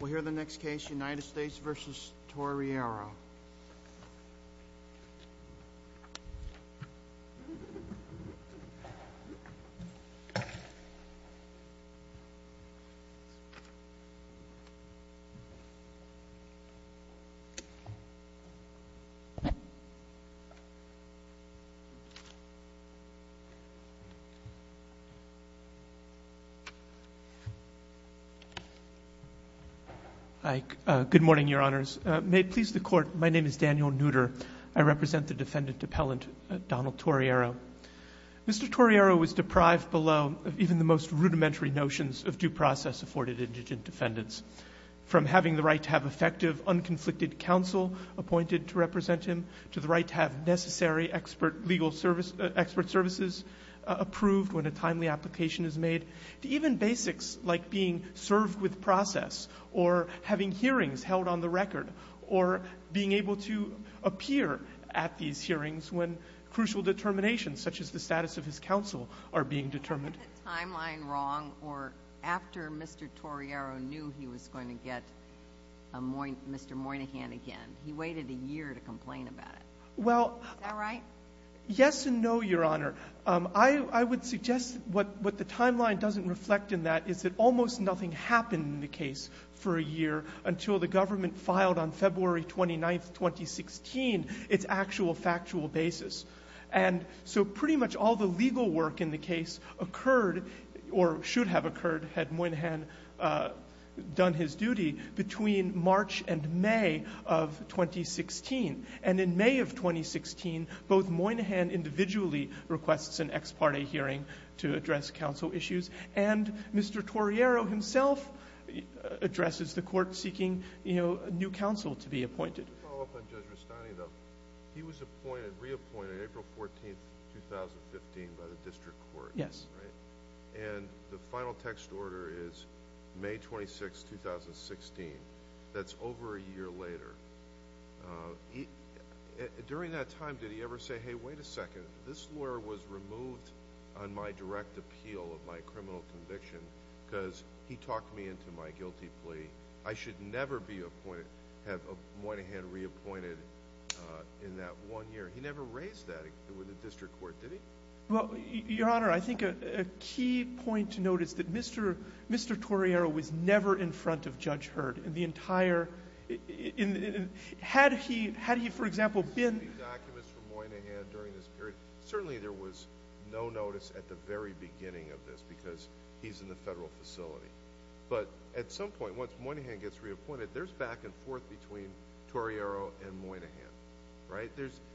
We'll hear the next case, United States v. Torriero. Hi. Good morning, Your Honors. May it please the Court, my name is Daniel Nooter. I represent the defendant appellant, Donald Torriero. Mr. Torriero was deprived below of even the most rudimentary notions of due process afforded indigent defendants, from having the right to have effective, unconflicted counsel appointed to represent him, to the right to have necessary expert legal services approved when a timely application is made, to even basics like being served with process or having hearings held on the record or being able to appear at these hearings when crucial determinations, such as the status of his counsel, are being determined. Is the timeline wrong or after Mr. Torriero knew he was going to get Mr. Moynihan again, he waited a year to complain about it? Is that right? Yes and no, Your Honor. I would suggest what the timeline doesn't reflect in that is that almost nothing happened in the case for a year until the government filed on February 29, 2016, its actual factual basis. And so pretty much all the legal work in the case occurred or should have occurred, had Moynihan done his duty, between March and May of 2016. And in May of 2016, both Moynihan individually requests an ex parte hearing to address counsel issues and Mr. Torriero himself addresses the court seeking a new counsel to be appointed. To follow up on Judge Rustani, though, he was reappointed April 14, 2015 by the district court. Yes. And the final text order is May 26, 2016. That's over a year later. During that time, did he ever say, hey, wait a second, this lawyer was removed on my direct appeal of my criminal conviction because he talked me into my guilty plea. I should never be appointed, have Moynihan reappointed in that one year. He never raised that with the district court, did he? Well, Your Honor, I think a key point to note is that Mr. Torriero was never in front of Judge Hurd in the entire ñ had he, for example, been ñ Certainly there was no notice at the very beginning of this because he's in the federal facility. But at some point, once Moynihan gets reappointed, there's back and forth between Torriero and Moynihan. Right?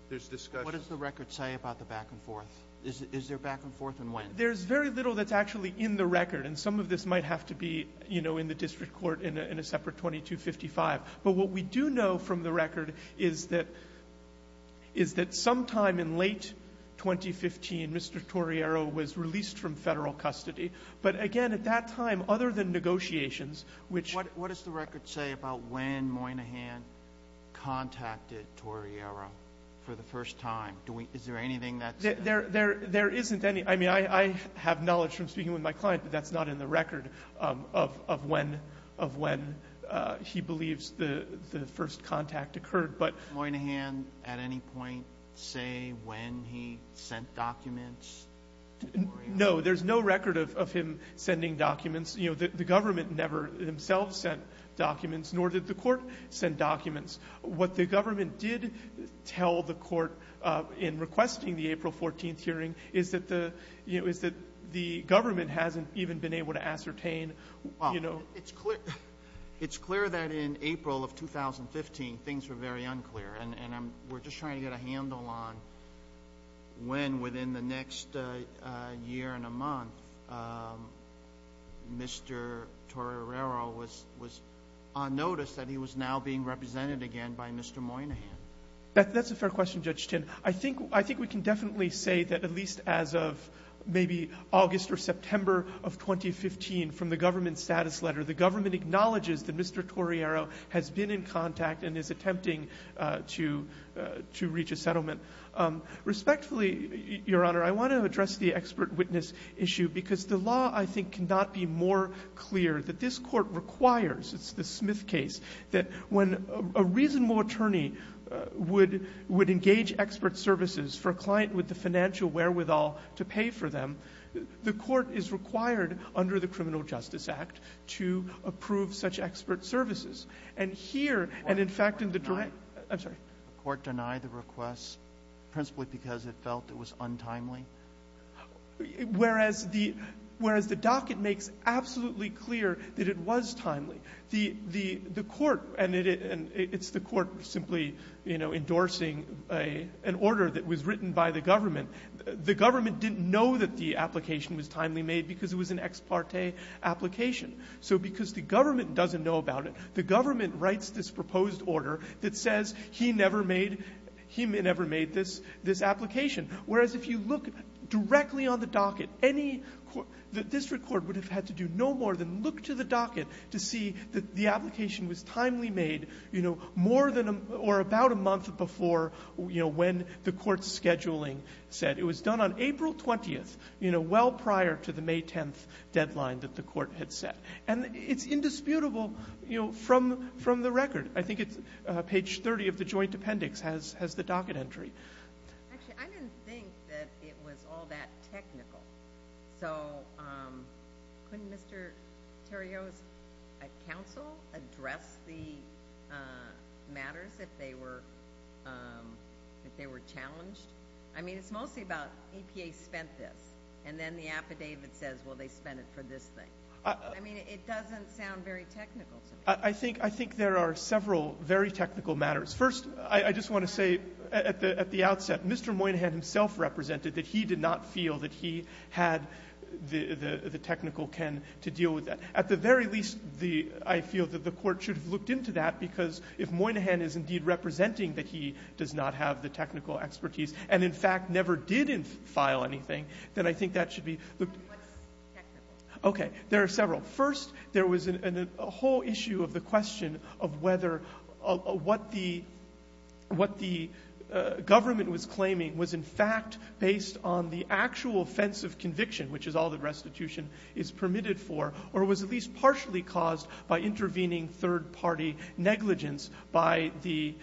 There's discussion. What does the record say about the back and forth? Is there back and forth and when? There's very little that's actually in the record. And some of this might have to be, you know, in the district court in a separate 2255. But what we do know from the record is that sometime in late 2015, Mr. Torriero was released from federal custody. But, again, at that time, other than negotiations, which ñ What does the record say about when Moynihan contacted Torriero for the first time? Is there anything that ñ There isn't any. I mean, I have knowledge from speaking with my client, but that's not in the record of when he believes the first contact occurred. Did Moynihan at any point say when he sent documents to Torriero? No. There's no record of him sending documents. You know, the government never themselves sent documents, nor did the court send documents. What the government did tell the court in requesting the April 14th hearing is that the ñ you know, is that the government hasn't even been able to ascertain, you know ñ Well, it's clear that in April of 2015 things were very unclear. And we're just trying to get a handle on when, within the next year and a month, Mr. Torriero was on notice that he was now being represented again by Mr. Moynihan. That's a fair question, Judge Tinn. I think we can definitely say that at least as of maybe August or September of 2015, from the government status letter, the government acknowledges that Mr. Torriero has been in contact and is attempting to reach a settlement. Respectfully, Your Honor, I want to address the expert witness issue because the law, I think, cannot be more clear that this court requires ñ it's the Smith case ñ that when a reasonable attorney would engage expert services for a client with the financial wherewithal to pay for them, the court is required under the Criminal Justice Act to approve such expert services. And here, and in fact in the direct ñ The court denied the request, principally because it felt it was untimely? Whereas the ñ whereas the docket makes absolutely clear that it was timely. The court ñ and it's the court simply, you know, endorsing an order that was written by the government. The government didn't know that the application was timely made because it was an ex parte application. So because the government doesn't know about it, the government writes this proposed order that says he never made ñ he never made this application. Whereas if you look directly on the docket, any ñ the district court would have had to do no more than look to the docket to see that the application was timely made, you know, more than ñ or about a month before, you know, when the court's scheduling said. It was done on April 20th, you know, well prior to the May 10th deadline that the court had set. And it's indisputable, you know, from the record. I think it's page 30 of the joint appendix has the docket entry. Actually, I didn't think that it was all that technical. So couldn't Mr. Terrio's counsel address the matters if they were ñ if they were challenged? I mean, it's mostly about APA spent this. And then the affidavit says, well, they spent it for this thing. I mean, it doesn't sound very technical to me. I think there are several very technical matters. First, I just want to say at the outset, Mr. Moynihan himself represented that he did not feel that he had the technical ken to deal with that. At the very least, I feel that the court should have looked into that because if Moynihan is indeed representing that he does not have the technical expertise and, in fact, never did file anything, then I think that should be ñ Whatís technical? Okay, there are several. First, there was a whole issue of the question of whether what the government was claiming was in fact based on the actual offensive conviction, which is all that restitution is permitted for, or was at least partially caused by intervening third-party negligence by the,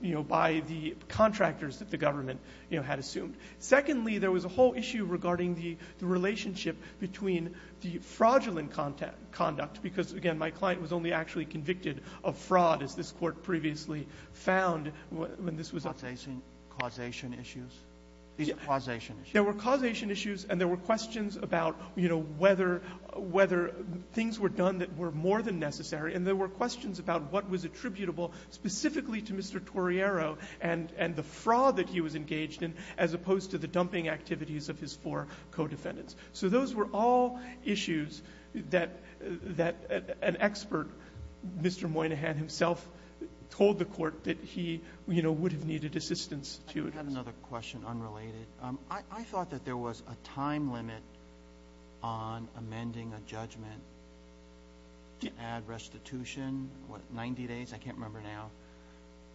you know, by the contractors that the government, you know, had assumed. Secondly, there was a whole issue regarding the relationship between the fraudulent conduct because, again, my client was only actually convicted of fraud, as this Court previously found when this was a ñ Causation issues? These causation issues? There were causation issues and there were questions about, you know, whether things were done that were more than necessary, and there were questions about what was attributable specifically to Mr. Torriero and the fraud that he was engaged in as opposed to the dumping activities of his four co-defendants. So those were all issues that an expert, Mr. Moynihan himself, told the Court that he, you know, would have needed assistance to address. Iíve got another question, unrelated. I thought that there was a time limit on amending a judgment to add restitution, what, 90 days? I canít remember now.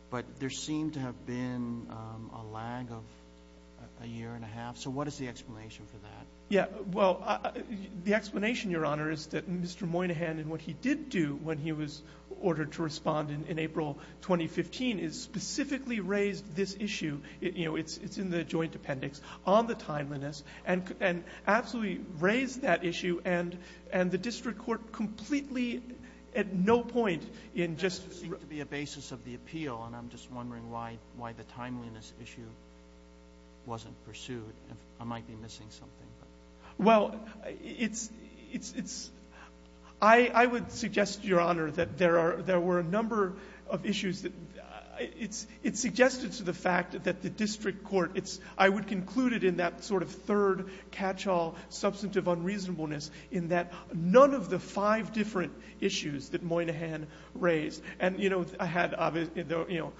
But there seemed to have been a lag of a year and a half. So what is the explanation for that? Yeah. Well, the explanation, Your Honor, is that Mr. Moynihan and what he did do when he was ordered to respond in April 2015 is specifically raise this issue. You know, itís in the joint appendix on the timeliness, and absolutely raised that issue, and the district court completely at no point in just ñ That doesnít seem to be a basis of the appeal, and Iím just wondering why the timeliness issue wasnít pursued. I might be missing something. Well, itís ñ I would suggest, Your Honor, that there were a number of issues that ñ it suggested to the fact that the district court ñ I would conclude it in that sort of third catch-all substantive unreasonableness in that none of the five different issues that Moynihan raised. And, you know, I had, you know,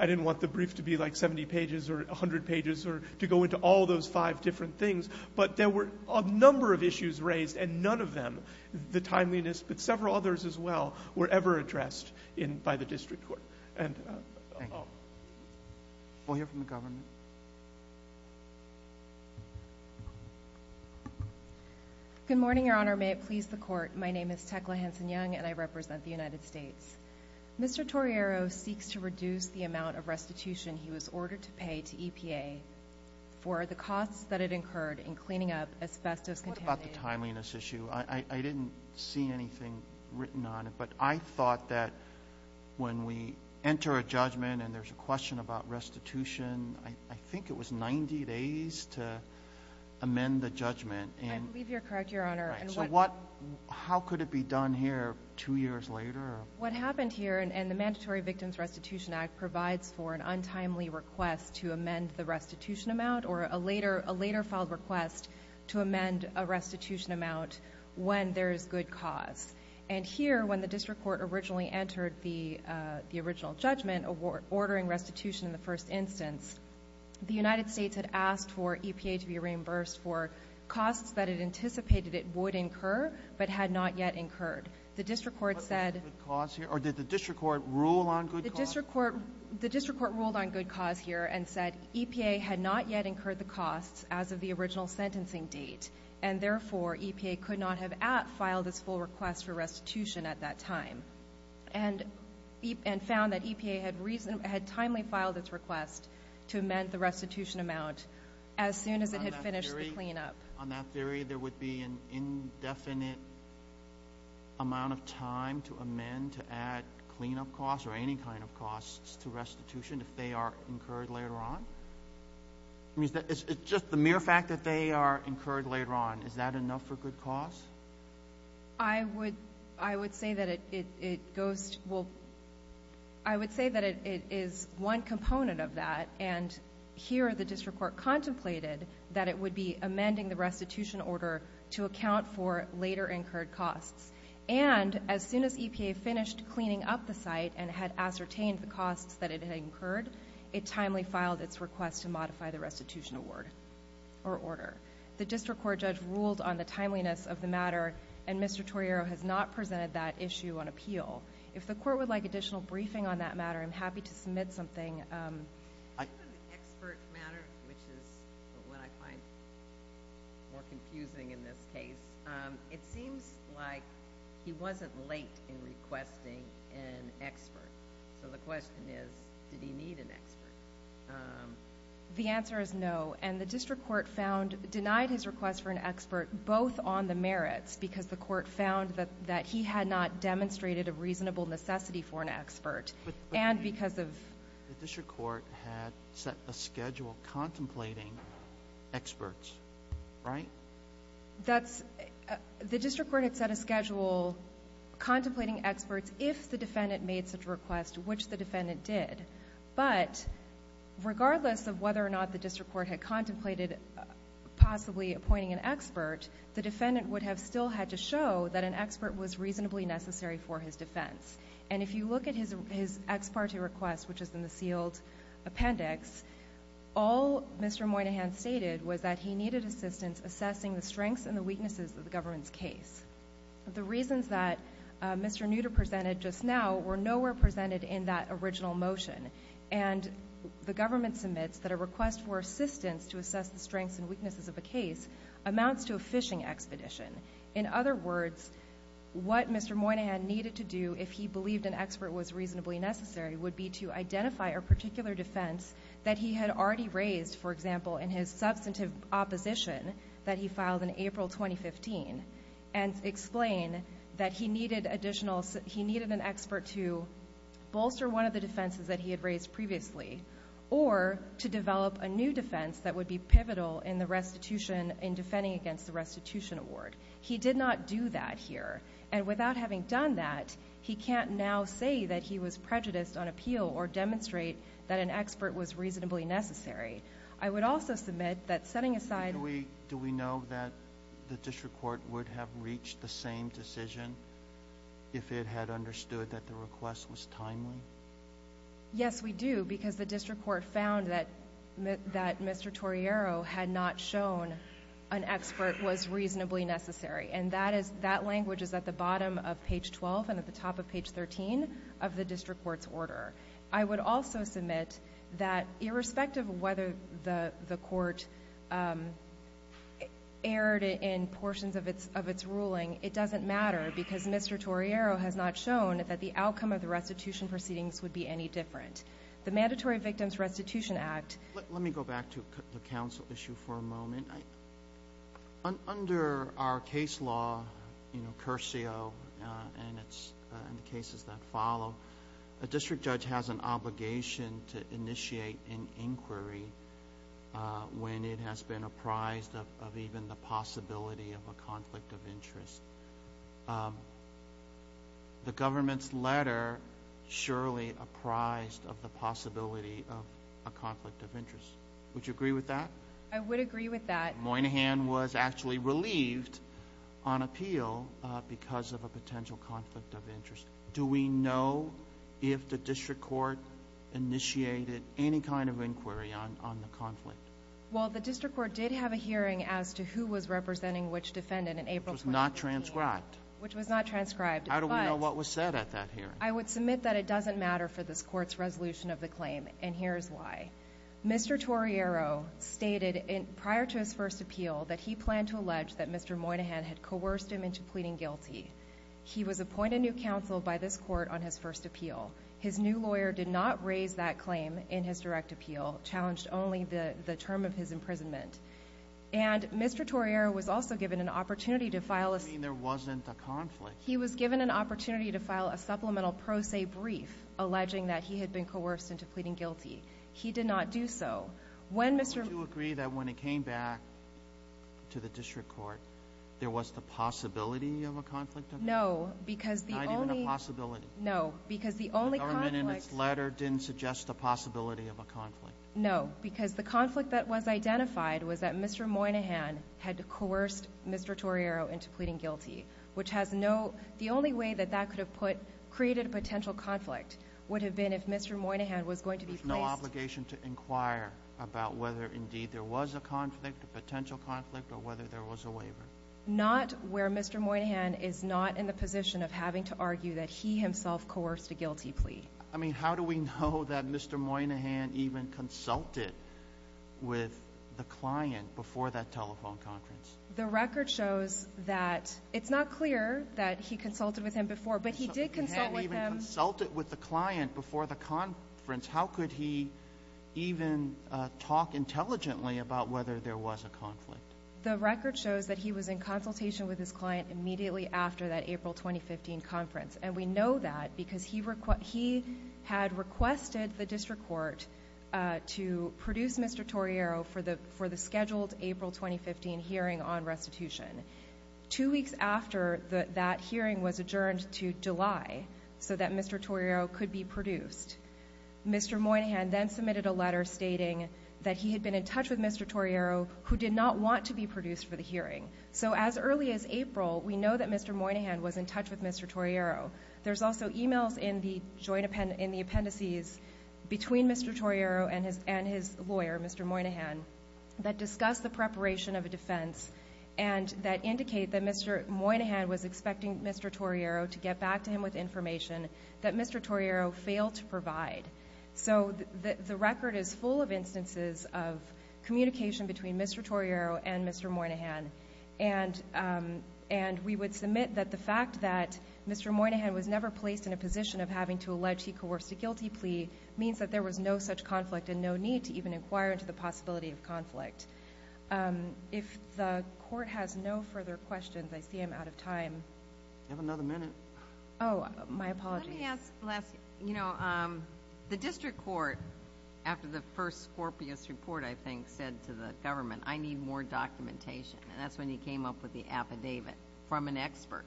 I didnít want the brief to be like 70 pages or 100 pages or to go into all those five different things, but there were a number of issues raised, and none of them, the timeliness, but several others as well, were ever addressed in ñ by the district court. And ñ Thank you. Weíll hear from the government. Good morning, Your Honor. May it please the Court. My name is Tecla Hanson-Young, and I represent the United States. Mr. Torriero seeks to reduce the amount of restitution he was ordered to pay to EPA for the costs that it incurred in cleaning up asbestos contamination. What about the timeliness issue? I didnít see anything written on it. But I thought that when we enter a judgment and thereís a question about restitution, I think it was 90 days to amend the judgment. I believe youíre correct, Your Honor. Right. So what ñ how could it be done here two years later? What happened here ñ and the Mandatory Victims Restitution Act provides for an untimely request to amend the restitution amount, or a later filed request to amend a restitution amount when there is good cause. And here, when the district court originally entered the original judgment, ordering restitution in the first instance, the United States had asked for EPA to be reimbursed for costs that it anticipated it would incur, but had not yet incurred. The district court said ñ But thereís good cause here? Or did the district court rule on good cause? The district court ruled on good cause here and said EPA had not yet incurred the costs as of the original sentencing date, and therefore, EPA could not have at-filed its full request for restitution at that time, and found that EPA had timely filed its request to amend the restitution amount as soon as it had finished the cleanup. On that theory, there would be an indefinite amount of time to amend, to add cleanup costs or any kind of costs to restitution if they are incurred later on? I mean, itís just the mere fact that they are incurred later on, is that enough for good cause? I would say that it goes ñ well, I would say that it is one component of that, and here, the district court contemplated that it would be amending the restitution order to account for later incurred costs, and as soon as EPA finished cleaning up the site and had ascertained the costs that it had incurred, it timely filed its request to modify the restitution award or order. The district court judge ruled on the timeliness of the matter, and Mr. Torriero has not presented that issue on appeal. If the court would like additional briefing on that matter, Iím happy to submit something. On the expert matter, which is what I find more confusing in this case, it seems like he wasnít late in requesting an expert. So the question is, did he need an expert? The answer is no, and the district court denied his request for an expert both on the merits, because the court found that he had not demonstrated a reasonable necessity for an expert, and The district court had set a schedule contemplating experts, right? The district court had set a schedule contemplating experts if the defendant made such a request, which the defendant did. But regardless of whether or not the district court had contemplated possibly appointing an expert, the defendant would have still had to show that an expert was reasonably necessary for his defense. And if you look at his ex parte request, which is in the sealed appendix, all Mr. Moynihan stated was that he needed assistance assessing the strengths and the weaknesses of the governmentís case. The reasons that Mr. Nooter presented just now were nowhere presented in that original motion, and the government submits that a request for assistance to assess the strengths and weaknesses of a case amounts to a fishing expedition. In other words, what Mr. Moynihan needed to do if he believed an expert was reasonably necessary would be to identify a particular defense that he had already raised, for example, in his substantive opposition that he filed in April 2015, and explain that he needed an expert to bolster one of the defenses that he had raised previously, or to develop a new defense that would be pivotal in defending against the restitution award. He did not do that here, and without having done that, he canít now say that he was prejudiced on appeal or demonstrate that an expert was reasonably necessary. I would also submit that, setting asideó Do we know that the district court would have reached the same decision if it had understood that the request was timely? Yes, we do, because the district court found that Mr. Torriero had not shown an expert was reasonably necessary, and that language is at the bottom of page 12 and at the top of page 13 of the district courtís order. I would also submit that, irrespective of whether the court erred in portions of its ruling, it doesnít matter, because Mr. Torriero has not shown that the outcome of the restitution proceedings would be any different. The Mandatory Victims Restitution Actó Under our case law, you know, Curcio, and the cases that follow, a district judge has an obligation to initiate an inquiry when it has been apprised of even the possibility of a conflict of interest. The governmentís letter surely apprised of the possibility of a conflict of interest. Would you agree with that? I would agree with that. Moynihan was actually relieved on appeal because of a potential conflict of interest. Do we know if the district court initiated any kind of inquiry on the conflict? Well, the district court did have a hearing as to who was representing which defendant in April 2016ó Which was not transcribed. Which was not transcribed, butó How do we know what was said at that hearing? I would submit that it doesnít matter for this courtís resolution of the claim, and here is why. Mr. Torriero stated prior to his first appeal that he planned to allege that Mr. Moynihan had coerced him into pleading guilty. He was appointed new counsel by this court on his first appeal. His new lawyer did not raise that claim in his direct appeal, challenged only the term of his imprisonment. And Mr. Torriero was also given an opportunity to file aó You mean there wasnít a conflict. He was given an opportunity to file a supplemental pro se brief alleging that he had been coerced into pleading guilty. He did not do so. When Mr.ó Do you agree that when it came back to the district court, there was the possibility of a conflict of interest? No, because the onlyó Not even a possibility. No, because the only conflictó The government in its letter didnít suggest the possibility of a conflict. No, because the conflict that was identified was that Mr. Moynihan had coerced Mr. Torriero into pleading guilty, which has noó The only way that that could have putócreated a potential conflict would have been if Mr. Moynihan had had the obligation to inquire about whether indeed there was a conflict, a potential conflict, or whether there was a waiver. Not where Mr. Moynihan is not in the position of having to argue that he himself coerced a guilty plea. I mean, how do we know that Mr. Moynihan even consulted with the client before that telephone conference? The record shows thatóitís not clear that he consulted with him before, but he did consult with himó Did he even talk intelligently about whether there was a conflict? The record shows that he was in consultation with his client immediately after that April 2015 conference, and we know that because he had requested the district court to produce Mr. Torriero for the scheduled April 2015 hearing on restitution. Two weeks after, that hearing was adjourned to July so that Mr. Torriero could be produced. Mr. Moynihan then submitted a letter stating that he had been in touch with Mr. Torriero who did not want to be produced for the hearing. So as early as April, we know that Mr. Moynihan was in touch with Mr. Torriero. Thereís also emails in the appendices between Mr. Torriero and his lawyer, Mr. Moynihan, that discuss the preparation of a defense and that indicate that Mr. Moynihan was expecting Mr. Torriero to get back to him with information that Mr. Torriero failed to provide. So the record is full of instances of communication between Mr. Torriero and Mr. Moynihan, and we would submit that the fact that Mr. Moynihan was never placed in a position of having to allege he coerced a guilty plea means that there was no such conflict and no need to even inquire into the possibility of conflict. If the court has no further questions, I see Iím out of time. You have another minute. Oh, my apologies. Let me ask, you know, the district court, after the first Scorpius report, I think, said to the government, ìI need more documentation.î And thatís when you came up with the affidavit from an expert.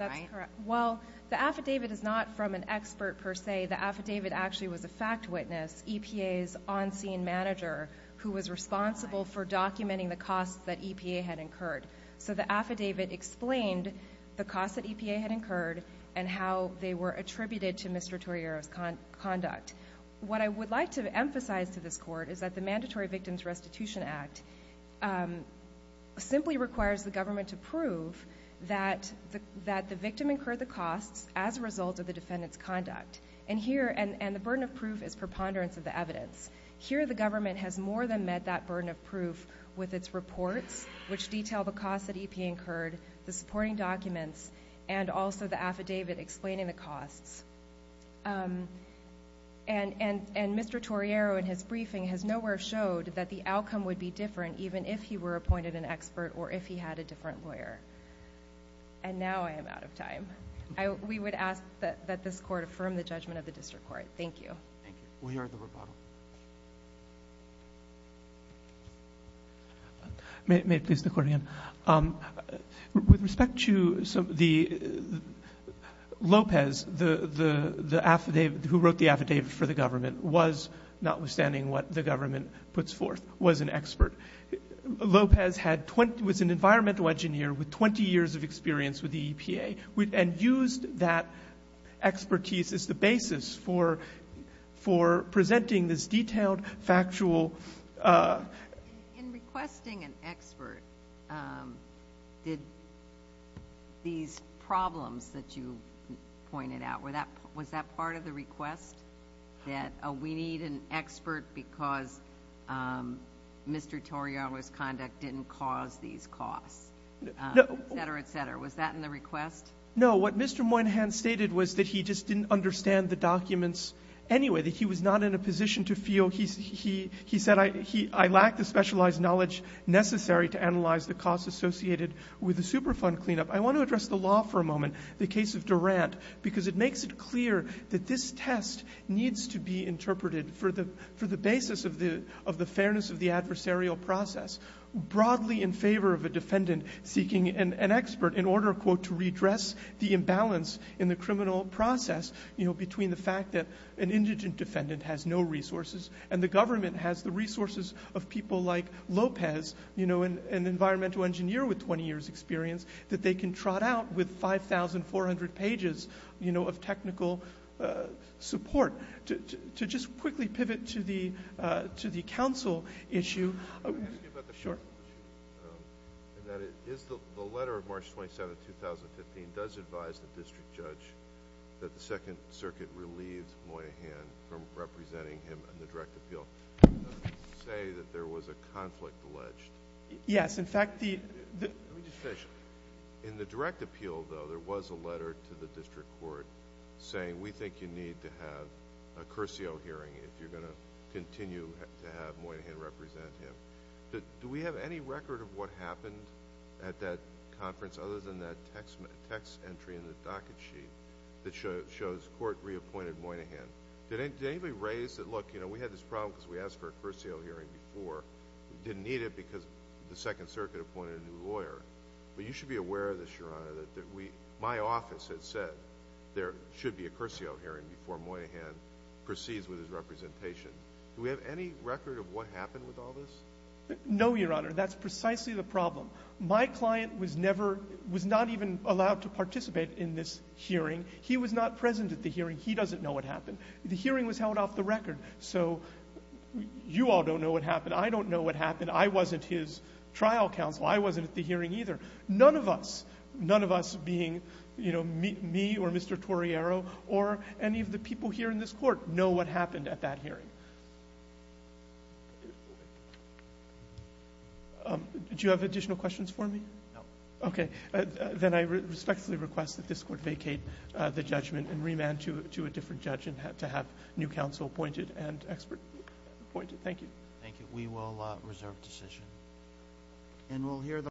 Thatís correct. Well, the affidavit is not from an expert per se. The affidavit actually was a fact witness, EPAís on-scene manager, who was responsible for documenting the costs that EPA had incurred. So the affidavit explained the costs that EPA had incurred and how they were attributed to Mr. Torrieroís conduct. What I would like to emphasize to this court is that the Mandatory Victims Restitution Act simply requires the government to prove that the victim incurred the costs as a result of the defendantís conduct. And the burden of proof is preponderance of the evidence. Here the government has more than met that burden of proof with its reports, which detail the costs that EPA incurred, the supporting documents, and also the affidavit explaining the costs. And Mr. Torriero in his briefing has nowhere showed that the outcome would be different even if he were appointed an expert or if he had a different lawyer. And now I am out of time. We would ask that this court affirm the judgment of the district court. Thank you. Thank you. We are at the rebuttal. May it please the Court again. With respect to the Lopez, the affidavit, who wrote the affidavit for the government, was, notwithstanding what the government puts forth, was an expert. Lopez was an environmental engineer with 20 years of experience with the EPA and used that expertise as the basis for presenting this detailed, factualó In requesting an expert, did these problems that you pointed out, was that part of the request that we need an expert because Mr. Torrieroís conduct didnít cause these costs, et cetera, et cetera? Was that in the request? No. What Mr. Moynihan stated was that he just didnít understand the documents anyway, that he was not in a position to feelóhe said, ìI lack the specialized knowledge necessary to analyze the costs associated with the Superfund cleanup.î I want to address the law for a moment, the case of Durant, because it makes it clear that this test needs to be interpreted for the basis of the fairness of the adversarial process, broadly in favor of a defendant seeking an expert in order, ìto redress the imbalance in the criminal process,î between the fact that an indigent defendant has no resources and the government has the resources of people like Lopez, an environmental engineer with 20 yearsí experience, that they can trot out with 5,400 pages of technical support. To just quickly pivot to the counsel issueó Can I ask you about the counsel issue? Sure. Is the letter of March 27, 2015, does it advise the district judge that the Second Circuit relieved Moynihan from representing him in the direct appeal? Does it say that there was a conflict alleged? Yes. In fact, theó Let me just finish. In the direct appeal, though, there was a letter to the district court saying, ìWe think you need to have a cursio hearing if youíre going to continue to have Moynihan represent him.î Do we have any record of what happened at that conference, other than that text entry in the docket sheet that shows, ìCourt reappointed Moynihan.î Did anybody raise that, ìLook, we had this problem because we asked for a cursio hearing before. We didnít need it because the Second Circuit appointed a new lawyer.î But you should be aware of this, Your Honor, that my office has said there should be a cursio hearing before Moynihan proceeds with his representation. Do we have any record of what happened with all this? No, Your Honor. Thatís precisely the problem. My client was neverówas not even allowed to participate in this hearing. He was not present at the hearing. He doesnít know what happened. The hearing was held off the record. So you all donít know what happened. I donít know what happened. I wasnít his trial counsel. I wasnít at the hearing either. None of usónone of us being, you know, me or Mr. Torriero or any of the people here in this Court know what happened at that hearing. Do you have additional questions for me? No. Okay. Then I respectfully request that this Court vacate the judgment and remand to a different judge to have new counsel appointed and expert appointed. Thank you. Thank you. We will reserve decision.